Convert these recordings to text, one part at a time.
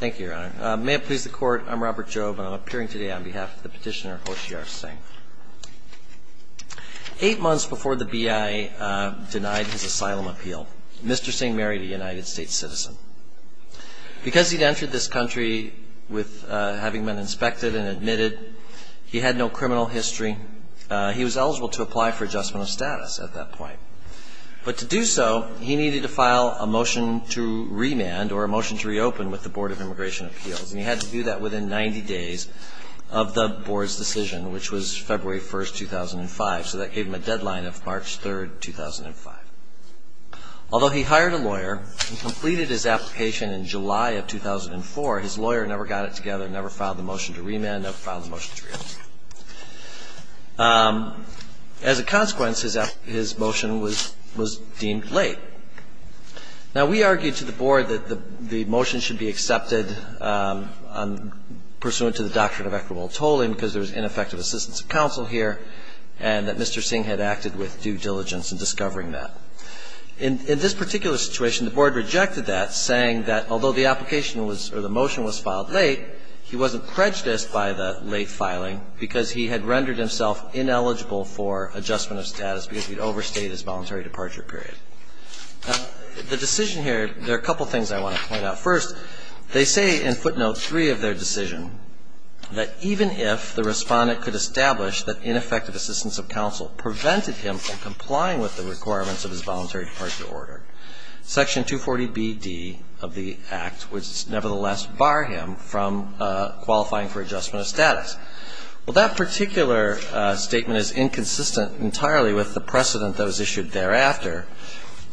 Thank you, Your Honor. May it please the Court, I'm Robert Jobe, and I'm appearing today on behalf of the petitioner Hoshiyar Singh. Eight months before the B.I. denied his asylum appeal, Mr. Singh married a United States citizen. Because he'd entered this country with having been inspected and admitted, he had no criminal history. He was eligible to apply for adjustment of status at that point. But to do so, he needed to file a motion to remand or a motion to reopen with the Board of Immigration Appeals. And he had to do that within 90 days of the Board's decision, which was February 1, 2005. So that gave him a deadline of March 3, 2005. Although he hired a lawyer and completed his application in July of 2004, his lawyer never got it together, never filed the motion to remand, never filed the motion to reopen. As a consequence, his motion was deemed late. Now, we argued to the Board that the motion should be accepted pursuant to the doctrine of equitable tolling, because there was ineffective assistance of counsel here, and that Mr. Singh had acted with due diligence in discovering that. In this particular situation, the Board rejected that, saying that although the application was or the motion was filed late, he wasn't prejudiced by the late filing because he had rendered himself ineligible for adjustment of status because he'd overstayed his voluntary departure period. The decision here, there are a couple of things I want to point out. First, they say in footnote 3 of their decision that even if the Respondent could establish that ineffective assistance of counsel prevented him from complying with the requirements of his voluntary departure order, Section 240Bd of the Act would nevertheless bar him from qualifying for adjustment of status. Well, that particular statement is inconsistent entirely with the precedent that was issued thereafter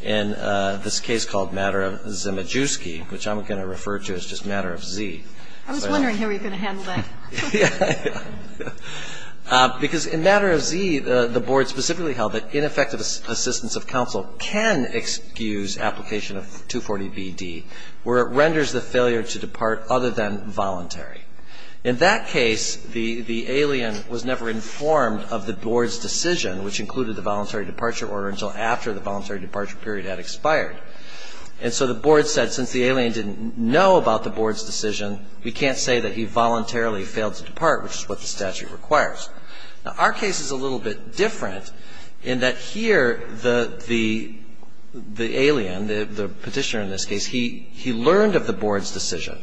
in this case called Matter of Zimijewski, which I'm going to refer to as just Matter of Z. I was wondering how you're going to handle that. Because in Matter of Z, the Board specifically held that ineffective assistance of counsel can excuse application of 240Bd where it renders the failure to depart other than voluntary. In that case, the alien was never informed of the Board's decision, which included the voluntary departure order, until after the voluntary departure period had expired. And so the Board said since the alien didn't know about the Board's decision, we can't say that he voluntarily failed to depart, which is what the statute requires. Now, our case is a little bit different in that here the alien, the petitioner in this case, he learned of the Board's decision.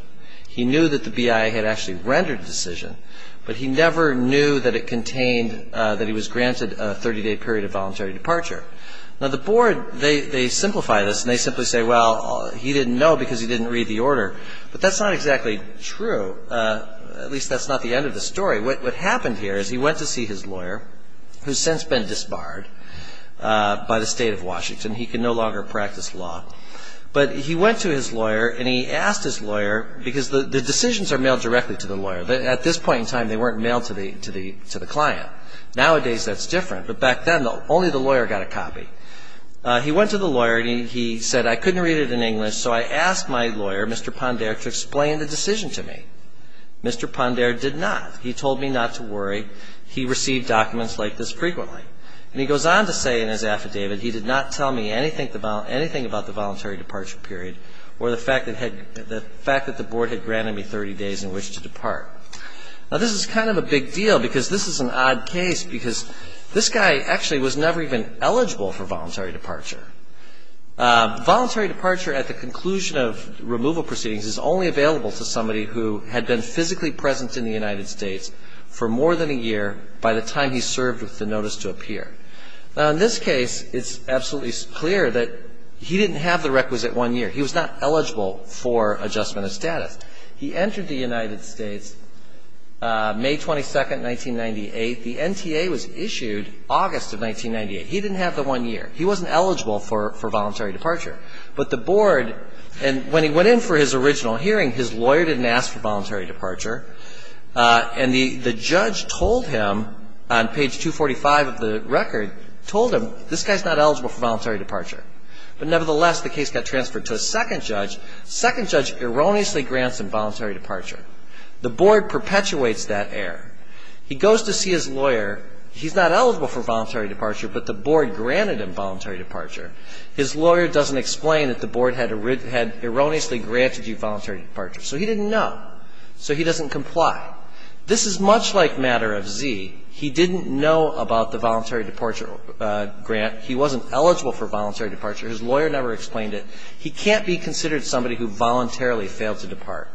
He knew that the BIA had actually rendered the decision, but he never knew that it contained that he was granted a 30-day period of voluntary departure. Now, the Board, they simplify this, and they simply say, well, he didn't know because he didn't read the order. But that's not exactly true. At least that's not the end of the story. What happened here is he went to see his lawyer, who's since been disbarred by the State of Washington. He can no longer practice law. But he went to his lawyer, and he asked his lawyer, because the decisions are mailed directly to the lawyer. But at this point in time, they weren't mailed to the client. Nowadays, that's different. But back then, though, only the lawyer got a copy. He went to the lawyer, and he said, I couldn't read it in English, so I asked my lawyer, Mr. Ponder, to explain the decision to me. Mr. Ponder did not. He told me not to worry. He received documents like this frequently. And he goes on to say in his affidavit, he did not tell me anything about the voluntary departure period or the fact that the Board had granted me 30 days in which to depart. Now, this is kind of a big deal, because this is an odd case, because this guy actually was never even eligible for voluntary departure. Voluntary departure at the conclusion of removal proceedings is only available to somebody who had been physically present in the United States for more than a year by the time he served with the notice to appear. Now, in this case, it's absolutely clear that he didn't have the requisite one year. He was not eligible for adjustment of status. He entered the United States May 22, 1998. The NTA was issued August of 1998. He didn't have the one year. He wasn't eligible for voluntary departure. But the Board, and when he went in for his original hearing, his lawyer didn't ask for voluntary departure. And the judge told him on page 245 of the record, told him, this guy's not eligible for voluntary departure. But nevertheless, the case got transferred to a second judge. Second judge erroneously grants him voluntary departure. The Board perpetuates that error. He goes to see his lawyer. He's not eligible for voluntary departure, but the Board granted him voluntary departure. His lawyer doesn't explain that the Board had erroneously granted you voluntary departure. So he didn't know. So he doesn't comply. This is much like matter of Z. He didn't know about the voluntary departure grant. He wasn't eligible for voluntary departure. He can't be considered somebody who voluntarily failed to depart.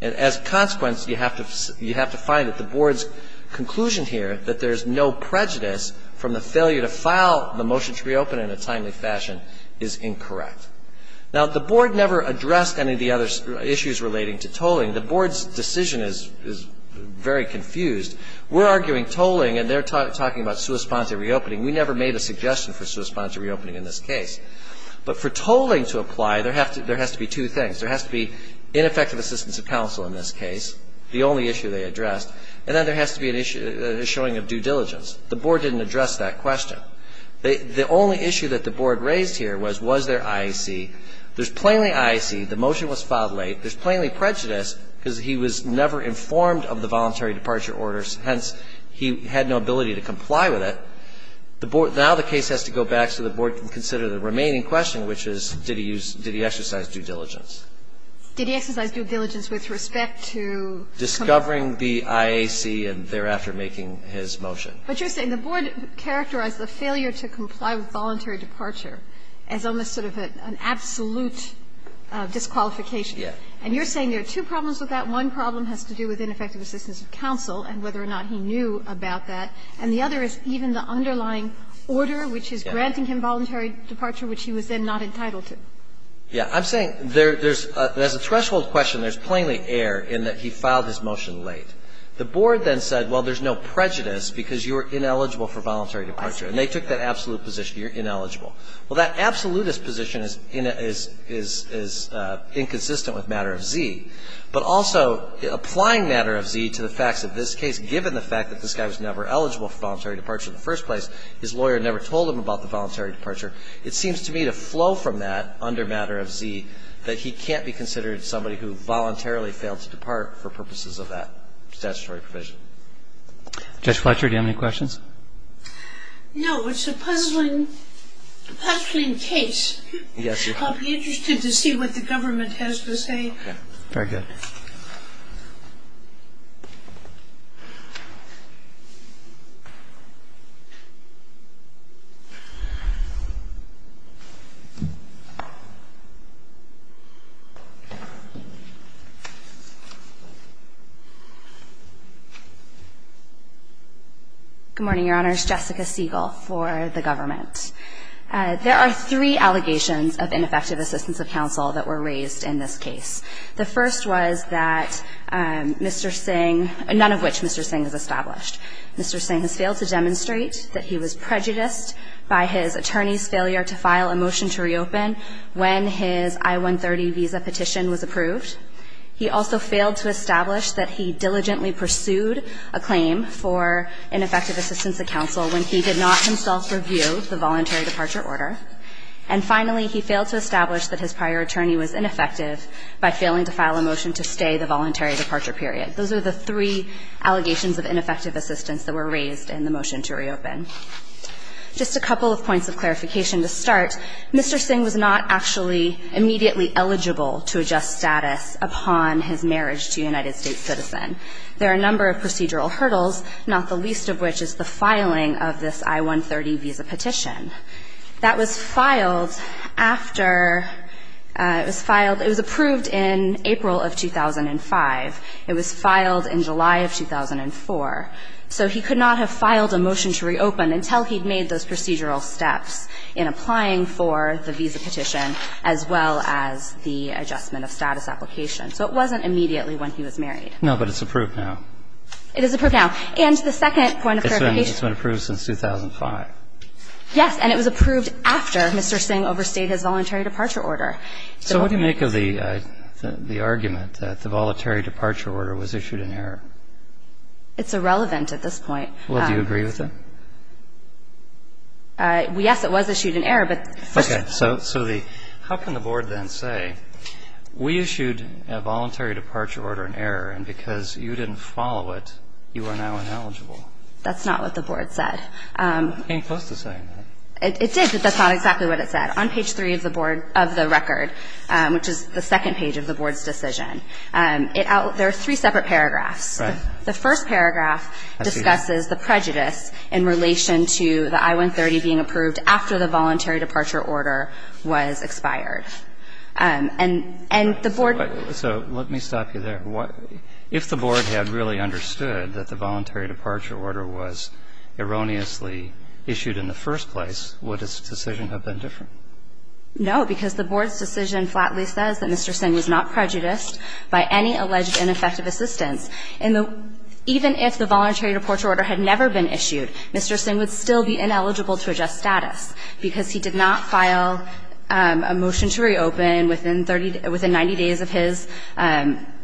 And as a consequence, you have to find that the Board's conclusion here, that there's no prejudice from the failure to file the motion to reopen in a timely fashion, is incorrect. Now, the Board never addressed any of the other issues relating to tolling. The Board's decision is very confused. We're arguing tolling, and they're talking about sua sponsa reopening. We never made a suggestion for sua sponsa reopening in this case. But for tolling to apply, there has to be two things. There has to be ineffective assistance of counsel in this case, the only issue they addressed. And then there has to be a showing of due diligence. The Board didn't address that question. The only issue that the Board raised here was, was there IEC? There's plainly IEC. The motion was filed late. There's plainly prejudice because he was never informed of the voluntary departure orders. Hence, he had no ability to comply with it. Now the case has to go back so the Board can consider the remaining question, which is, did he exercise due diligence? Did he exercise due diligence with respect to? Discovering the IEC and thereafter making his motion. But you're saying the Board characterized the failure to comply with voluntary departure as almost sort of an absolute disqualification. Yes. And you're saying there are two problems with that. One problem has to do with ineffective assistance of counsel and whether or not he knew about that. And the other is even the underlying order, which is granting him voluntary departure, which he was then not entitled to. Yeah. I'm saying there's a threshold question. There's plainly error in that he filed his motion late. The Board then said, well, there's no prejudice because you were ineligible for voluntary departure. And they took that absolute position. You're ineligible. Well, that absolutist position is inconsistent with Matter of Z. But also, applying Matter of Z to the facts of this case, given the fact that this guy was never eligible for voluntary departure in the first place, his lawyer never told him about the voluntary departure, it seems to me to flow from that under Matter of Z that he can't be considered somebody who voluntarily failed to depart for purposes of that statutory provision. Judge Fletcher, do you have any questions? No. It's a puzzling case. Yes. I'll be interested to see what the government has to say. Okay. Very good. Good morning, Your Honors. Jessica Siegel for the government. There are three allegations of ineffective assistance of counsel that were raised in this case. The first was that Mr. Singh, none of which Mr. Singh has established. Mr. Singh has failed to demonstrate that he was prejudiced by his attorney's failure to file a motion to reopen when his I-130 visa petition was approved. He also failed to establish that he diligently pursued a claim for ineffective assistance of counsel when he did not himself review the voluntary departure order. And finally, he failed to establish that his prior attorney was ineffective by failing to file a motion to stay the voluntary departure period. Those are the three allegations of ineffective assistance that were raised in the motion to reopen. Just a couple of points of clarification to start. Mr. Singh was not actually immediately eligible to adjust status upon his marriage to a United States citizen. There are a number of procedural hurdles, not the least of which is the filing of this I-130 visa petition. That was filed after, it was filed, it was approved in April of 2005. It was filed in July of 2004. So he could not have filed a motion to reopen until he'd made those procedural steps in applying for the visa petition as well as the adjustment of status application. So it wasn't immediately when he was married. No, but it's approved now. It is approved now. And the second point of clarification. It's been approved since 2005. Yes, and it was approved after Mr. Singh overstayed his voluntary departure order. So what do you make of the argument that the voluntary departure order was issued in error? It's irrelevant at this point. Well, do you agree with it? Yes, it was issued in error, but first of all. Okay. So how can the Board then say, we issued a voluntary departure order in error, and because you didn't follow it, you are now ineligible? That's not what the Board said. It came close to saying that. It did, but that's not exactly what it said. On page 3 of the Board of the record, which is the second page of the Board's decision, there are three separate paragraphs. The first paragraph discusses the prejudice in relation to the I-130 being approved after the voluntary departure order was expired. And the Board. So let me stop you there. If the Board had really understood that the voluntary departure order was erroneously issued in the first place, would its decision have been different? No, because the Board's decision flatly says that Mr. Singh was not prejudiced by any alleged ineffective assistance. And even if the voluntary departure order had never been issued, Mr. Singh would still be ineligible to adjust status, because he did not file a motion to reopen within 30, within 90 days of his,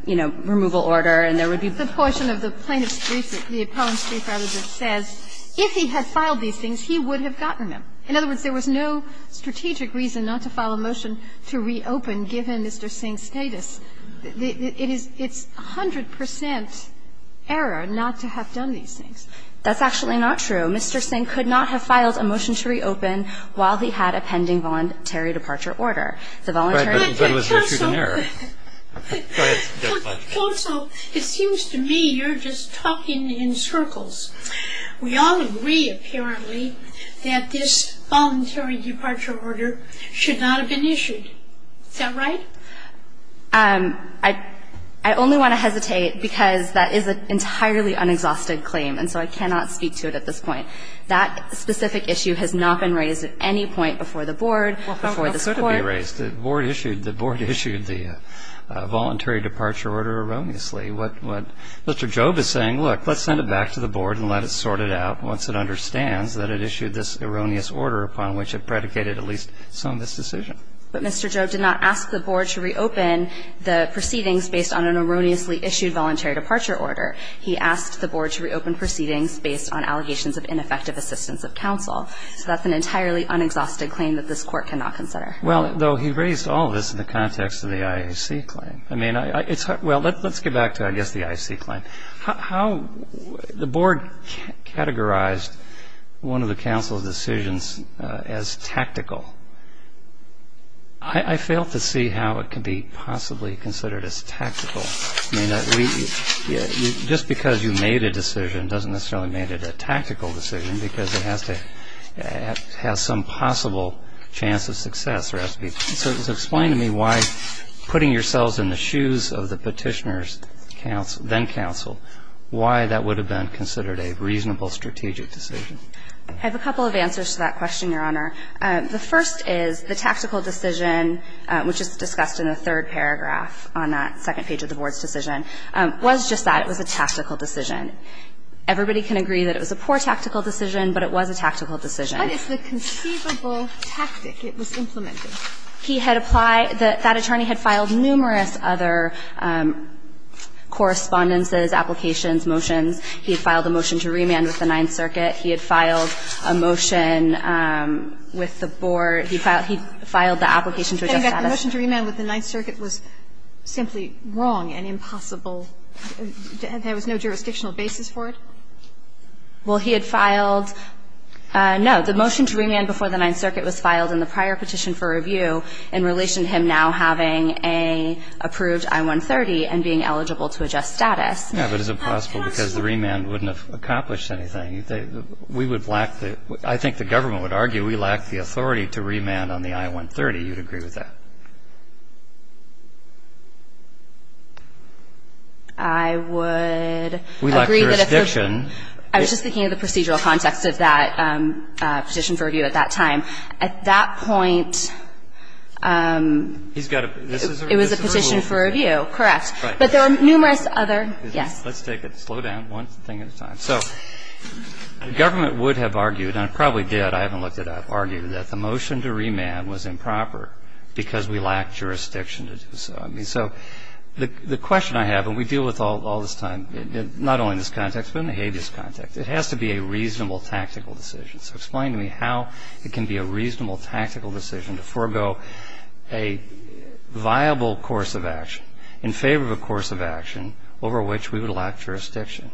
you know, removal order, and there would be. The portion of the plaintiff's brief, the appellant's brief, as it says, if he had filed these things, he would have gotten them. In other words, there was no strategic reason not to file a motion to reopen given Mr. Singh's status. It is 100 percent error not to have done these things. That's actually not true. Mr. Singh could not have filed a motion to reopen while he had a pending voluntary departure order. The voluntary departure order. But, counsel, it seems to me you're just talking in circles. We all agree, apparently, that this voluntary departure order should not have been issued. Is that right? I only want to hesitate because that is an entirely unexhausted claim, and so I cannot speak to it at this point. That specific issue has not been raised at any point before the Board, before this case. The Board issued the voluntary departure order erroneously. What Mr. Jobe is saying, look, let's send it back to the Board and let it sort it out once it understands that it issued this erroneous order upon which it predicated at least some of this decision. But Mr. Jobe did not ask the Board to reopen the proceedings based on an erroneously issued voluntary departure order. He asked the Board to reopen proceedings based on allegations of ineffective assistance of counsel. So that's an entirely unexhausted claim that this Court cannot consider. Well, though, he raised all of this in the context of the IAC claim. Well, let's get back to, I guess, the IAC claim. The Board categorized one of the counsel's decisions as tactical. I fail to see how it could be possibly considered as tactical. I mean, just because you made a decision doesn't necessarily make it a tactical decision, because it has to have some possible chance of success. So just explain to me why putting yourselves in the shoes of the Petitioner's then-counsel, why that would have been considered a reasonable strategic decision. I have a couple of answers to that question, Your Honor. The first is the tactical decision, which is discussed in the third paragraph on that second page of the Board's decision, was just that. It was a tactical decision. Everybody can agree that it was a poor tactical decision, but it was a tactical decision. What is the conceivable tactic it was implementing? He had applied the – that attorney had filed numerous other correspondences, applications, motions. He had filed a motion to remand with the Ninth Circuit. He had filed a motion with the Board. He filed the application to adjust status. And the motion to remand with the Ninth Circuit was simply wrong and impossible and there was no jurisdictional basis for it? Well, he had filed – no, the motion to remand before the Ninth Circuit was filed in the prior petition for review in relation to him now having a approved I-130 and being eligible to adjust status. Yeah, but is it possible because the remand wouldn't have accomplished anything? We would lack the – I think the government would argue we lack the authority to remand on the I-130. You'd agree with that? I would agree that if the – We lack jurisdiction. I was just thinking of the procedural context of that petition for review at that time. At that point, it was a petition for review, correct. Right. But there were numerous other – yes. Let's take it slow down one thing at a time. So the government would have argued, and it probably did, I haven't looked it up, argued that the motion to remand was improper because we lacked jurisdiction to do so. I mean, so the question I have, and we deal with all this time, not only in this context but in the habeas context, it has to be a reasonable tactical decision. So explain to me how it can be a reasonable tactical decision to forego a viable course of action in favor of a course of action over which we would lack jurisdiction.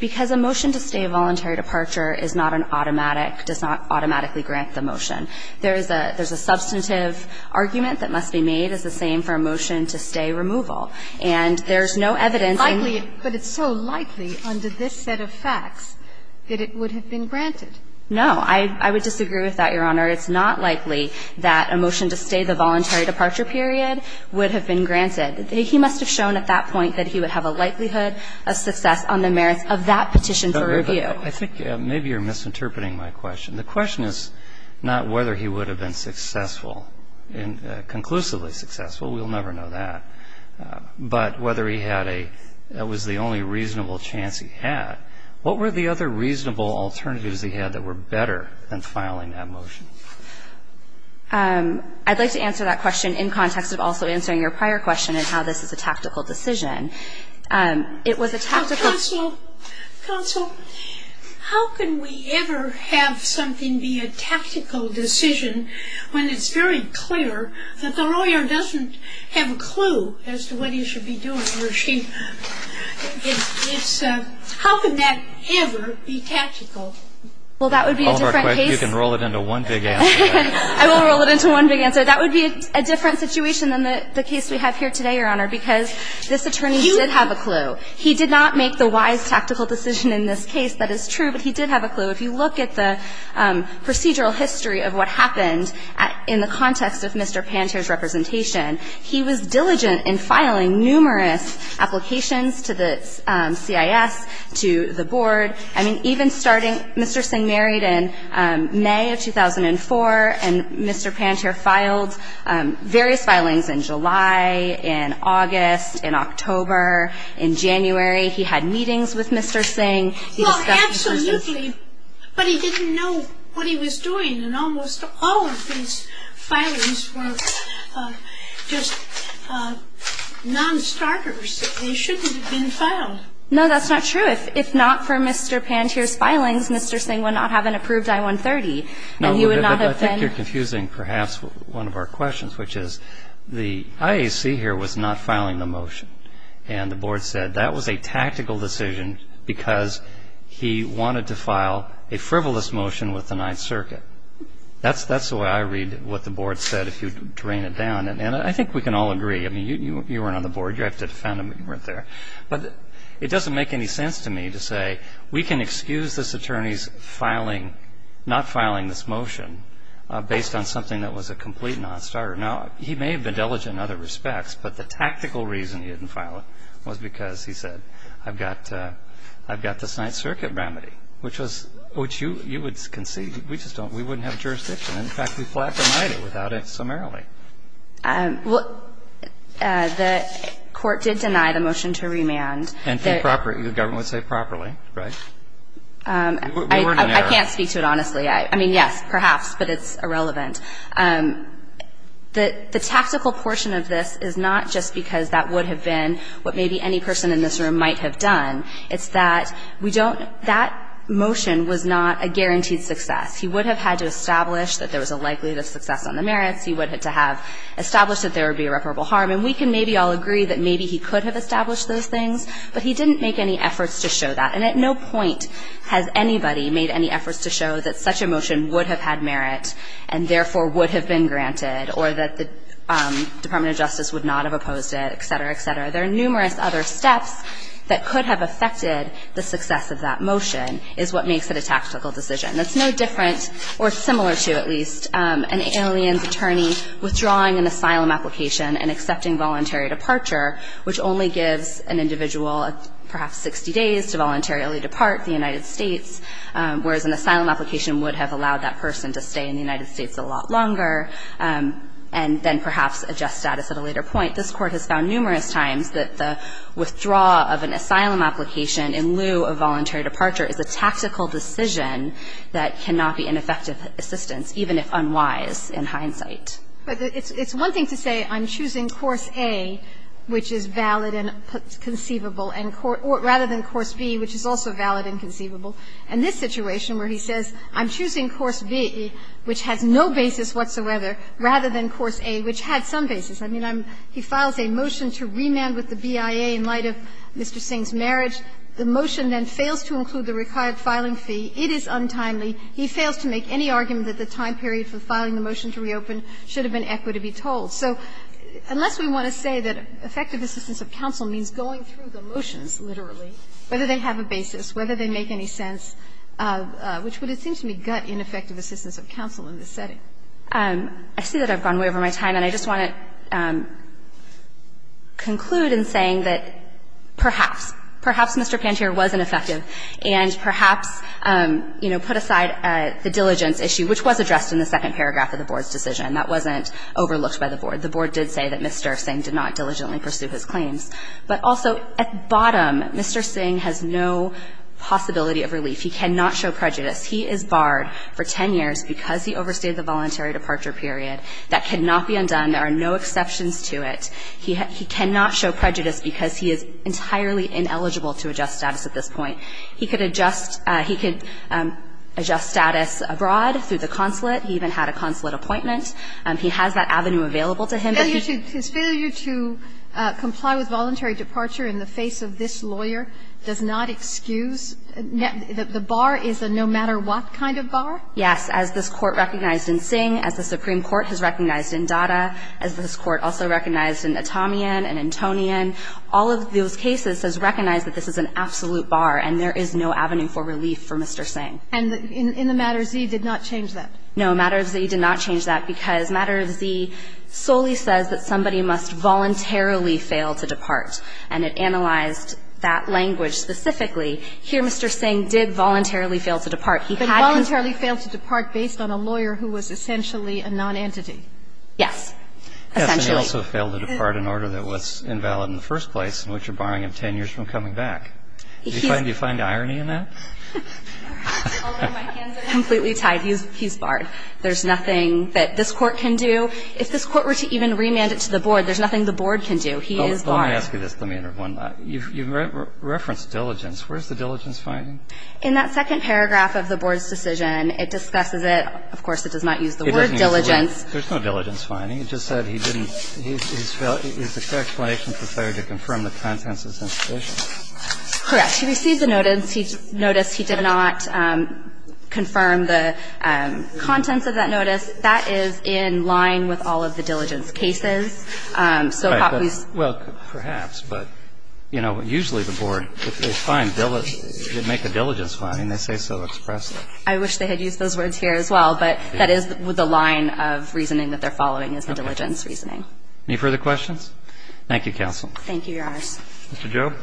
Because a motion to stay a voluntary departure is not an automatic, does not automatically grant the motion. There is a substantive argument that must be made as the same for a motion to stay removal. And there is no evidence in the – But it's so likely under this set of facts that it would have been granted. No. I would disagree with that, Your Honor. It's not likely that a motion to stay the voluntary departure period would have been granted. He must have shown at that point that he would have a likelihood of success on the merits of that petition for review. I think maybe you're misinterpreting my question. The question is not whether he would have been successful, conclusively successful. We'll never know that. But whether he had a – it was the only reasonable chance he had. What were the other reasonable alternatives he had that were better than filing that motion? I'd like to answer that question in context of also answering your prior question of how this is a tactical decision. It was a tactical – Counsel, counsel, how can we ever have something be a tactical decision when it's very clear that the lawyer doesn't have a clue as to what he should be doing, or she – it's – how can that ever be tactical? Well, that would be a different case – You can roll it into one big answer. I will roll it into one big answer. That would be a different situation than the case we have here today, Your Honor, because this attorney did have a clue. He did not make the wise tactical decision in this case. That is true, but he did have a clue. If you look at the procedural history of what happened in the context of Mr. Panter's representation, he was diligent in filing numerous applications to the CIS, to the board. I mean, even starting – Mr. Singh married in May of 2004, and Mr. Panter filed various filings in July, in August, in October, in January. He had meetings with Mr. Singh. He discussed – Well, absolutely, but he didn't know what he was doing, and almost all of his filings were just non-starters. They shouldn't have been filed. No, that's not true. If not for Mr. Panter's filings, Mr. Singh would not have an approved I-130, and he would not have been – No, but I think you're confusing perhaps one of our questions, which is the IAC here was not filing the motion, and the board said that was a tactical decision because he wanted to file a frivolous motion with the Ninth Circuit. That's the way I read what the board said, if you drain it down, and I think we can all agree. I mean, you weren't on the board. You have to defend him, but you weren't there. But it doesn't make any sense to me to say we can excuse this attorney's filing – not filing this motion based on something that was a complete non-starter. Now, he may have been diligent in other respects, but the tactical reason he didn't file it was because, he said, I've got the Ninth Circuit remedy, which was – which you would concede. We just don't – we wouldn't have jurisdiction. In fact, we flat denied it without it summarily. Well, the court did deny the motion to remand. And the government would say properly, right? We weren't in error. I can't speak to it honestly. I mean, yes, perhaps, but it's irrelevant. The tactical portion of this is not just because that would have been what maybe any person in this room might have done. It's that we don't – that motion was not a guaranteed success. He would have had to establish that there was a likelihood of success on the merits. He would have to have established that there would be irreparable harm. And we can maybe all agree that maybe he could have established those things, but he didn't make any efforts to show that. And at no point has anybody made any efforts to show that such a motion would have had merit and therefore would have been granted or that the Department of Justice would not have opposed it, et cetera, et cetera. There are numerous other steps that could have affected the success of that motion is what makes it a tactical decision. And it's no different or similar to, at least, an alien's attorney withdrawing an asylum application and accepting voluntary departure, which only gives an individual perhaps 60 days to voluntarily depart the United States, whereas an asylum application would have allowed that person to stay in the United States a lot longer and then perhaps adjust status at a later point. This Court has found numerous times that the withdrawal of an asylum application in lieu of voluntary departure is a tactical decision that cannot be an effective assistance, even if unwise in hindsight. But it's one thing to say I'm choosing course A, which is valid and conceivable, rather than course B, which is also valid and conceivable. In this situation where he says I'm choosing course B, which has no basis whatsoever, rather than course A, which had some basis. I mean, he files a motion to remand with the BIA in light of Mr. Singh's marriage. The motion then fails to include the required filing fee. It is untimely. He fails to make any argument that the time period for filing the motion to reopen should have been equitable to be told. So unless we want to say that effective assistance of counsel means going through the motions, literally, whether they have a basis, whether they make any sense, which would, it seems to me, gut ineffective assistance of counsel in this setting. I see that I've gone way over my time, and I just want to conclude in saying that perhaps, perhaps Mr. Pantier was ineffective and perhaps, you know, put aside the diligence issue, which was addressed in the second paragraph of the Board's decision. That wasn't overlooked by the Board. The Board did say that Mr. Singh did not diligently pursue his claims. But also, at the bottom, Mr. Singh has no possibility of relief. He cannot show prejudice. He is barred for 10 years because he overstayed the voluntary departure period. That cannot be undone. There are no exceptions to it. He cannot show prejudice because he is entirely ineligible to adjust status at this point. He could adjust he could adjust status abroad through the consulate. He even had a consulate appointment. He has that avenue available to him. But he's His failure to comply with voluntary departure in the face of this lawyer does not excuse. The bar is a no matter what kind of bar? Yes. As this Court recognized in Singh, as the Supreme Court has recognized in Datta, as this Court also recognized in Atamian and Antonian, all of those cases has recognized that this is an absolute bar and there is no avenue for relief for Mr. Singh. And in the Matter Z did not change that? No. Matter Z did not change that because Matter Z solely says that somebody must voluntarily fail to depart. And it analyzed that language specifically. Here Mr. Singh did voluntarily fail to depart. He had But voluntarily failed to depart based on a lawyer who was essentially a nonentity? Yes. Essentially. And he also failed to depart in order that was invalid in the first place, in which you're barring him 10 years from coming back. Do you find irony in that? Completely tied. He's barred. There's nothing that this Court can do. If this Court were to even remand it to the board, there's nothing the board can do. He is barred. Let me ask you this. Let me interrupt one. You referenced diligence. Where's the diligence finding? In that second paragraph of the board's decision, it discusses it. Of course, it does not use the word diligence. There's no diligence finding. It just said he didn't – he's a fair explanation for failure to confirm the contents of his institution. Correct. He received the notice. He noticed he did not confirm the contents of that notice. That is in line with all of the diligence cases. So Popley's – Well, perhaps. But, you know, usually the board, if they find – make a diligence finding, they say so expressly. I wish they had used those words here as well, but that is the line of reasoning that they're following is the diligence reasoning. Any further questions? Thank you, counsel. Thank you, Your Honors. Mr. Jobe.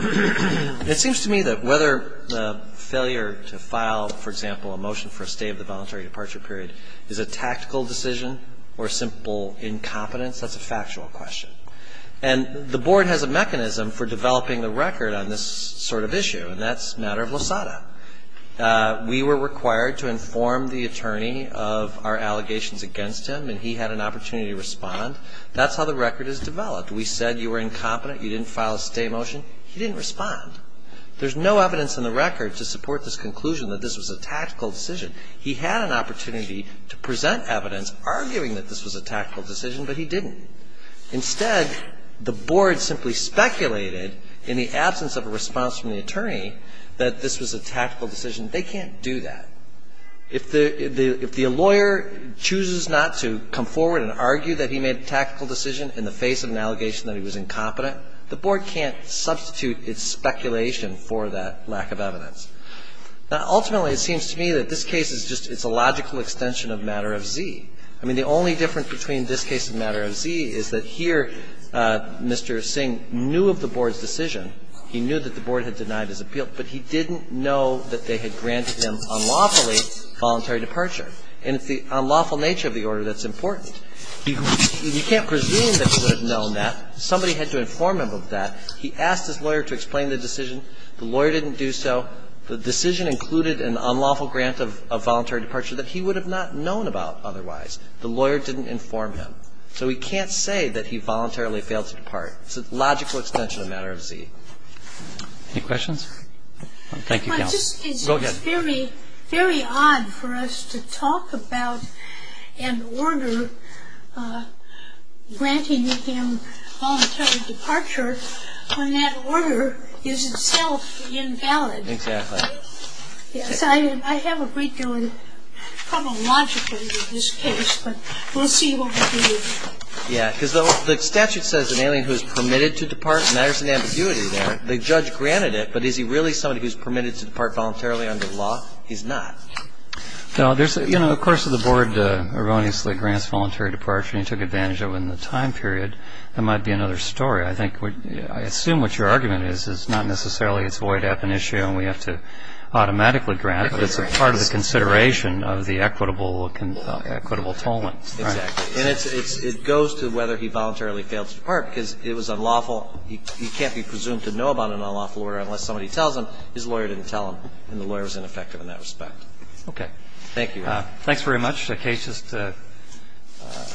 It seems to me that whether the failure to file, for example, a motion for a stay of the voluntary departure period is a tactical decision or a simple incompetence, that's a factual question. And the board has a mechanism for developing the record on this sort of issue, and that's a matter of LOSADA. We were required to inform the attorney of our allegations against him, and he had an opportunity to respond. That's how the record is developed. We said you were incompetent, you didn't file a stay motion. He didn't respond. There's no evidence in the record to support this conclusion that this was a tactical decision. He had an opportunity to present evidence arguing that this was a tactical decision, but he didn't. Instead, the board simply speculated, in the absence of a response from the attorney, that this was a tactical decision. They can't do that. If the lawyer chooses not to come forward and argue that he made a tactical decision in the face of an allegation that he was incompetent, the board can't substitute its speculation for that lack of evidence. Now, ultimately, it seems to me that this case is just, it's a logical extension of Matter of Z. I mean, the only difference between this case and Matter of Z is that here, Mr. Singh knew of the board's decision. He knew that the board had denied his appeal, but he didn't know that they had granted him, unlawfully, voluntary departure. And it's the unlawful nature of the order that's important. You can't presume that he would have known that. Somebody had to inform him of that. He asked his lawyer to explain the decision. The lawyer didn't do so. The decision included an unlawful grant of voluntary departure that he would have not known about otherwise. The lawyer didn't inform him. So we can't say that he voluntarily failed to depart. It's a logical extension of Matter of Z. Any questions? Thank you, counsel. Go ahead. It's very odd for us to talk about an order granting him voluntary departure when that order is itself invalid. Exactly. So I have a great deal of trouble logically with this case, but we'll see what we do. The statute says an alien who is permitted to depart. There's an ambiguity there. The judge granted it, but is he really somebody who is permitted to depart voluntarily under the law? He's not. Of course, the board erroneously grants voluntary departure, and he took advantage of it in the time period. That might be another story. I assume what your argument is is not necessarily it's void app initio, and we have to automatically grant, but it's a part of the consideration of the equitable tolling. Exactly. And it goes to whether he voluntarily failed to depart because it was unlawful. He can't be presumed to know about an unlawful order unless somebody tells him. His lawyer didn't tell him, and the lawyer was ineffective in that respect. Okay. Thank you. Thanks very much. The case just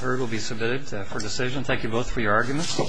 heard will be submitted for decision. Thank you both for your arguments.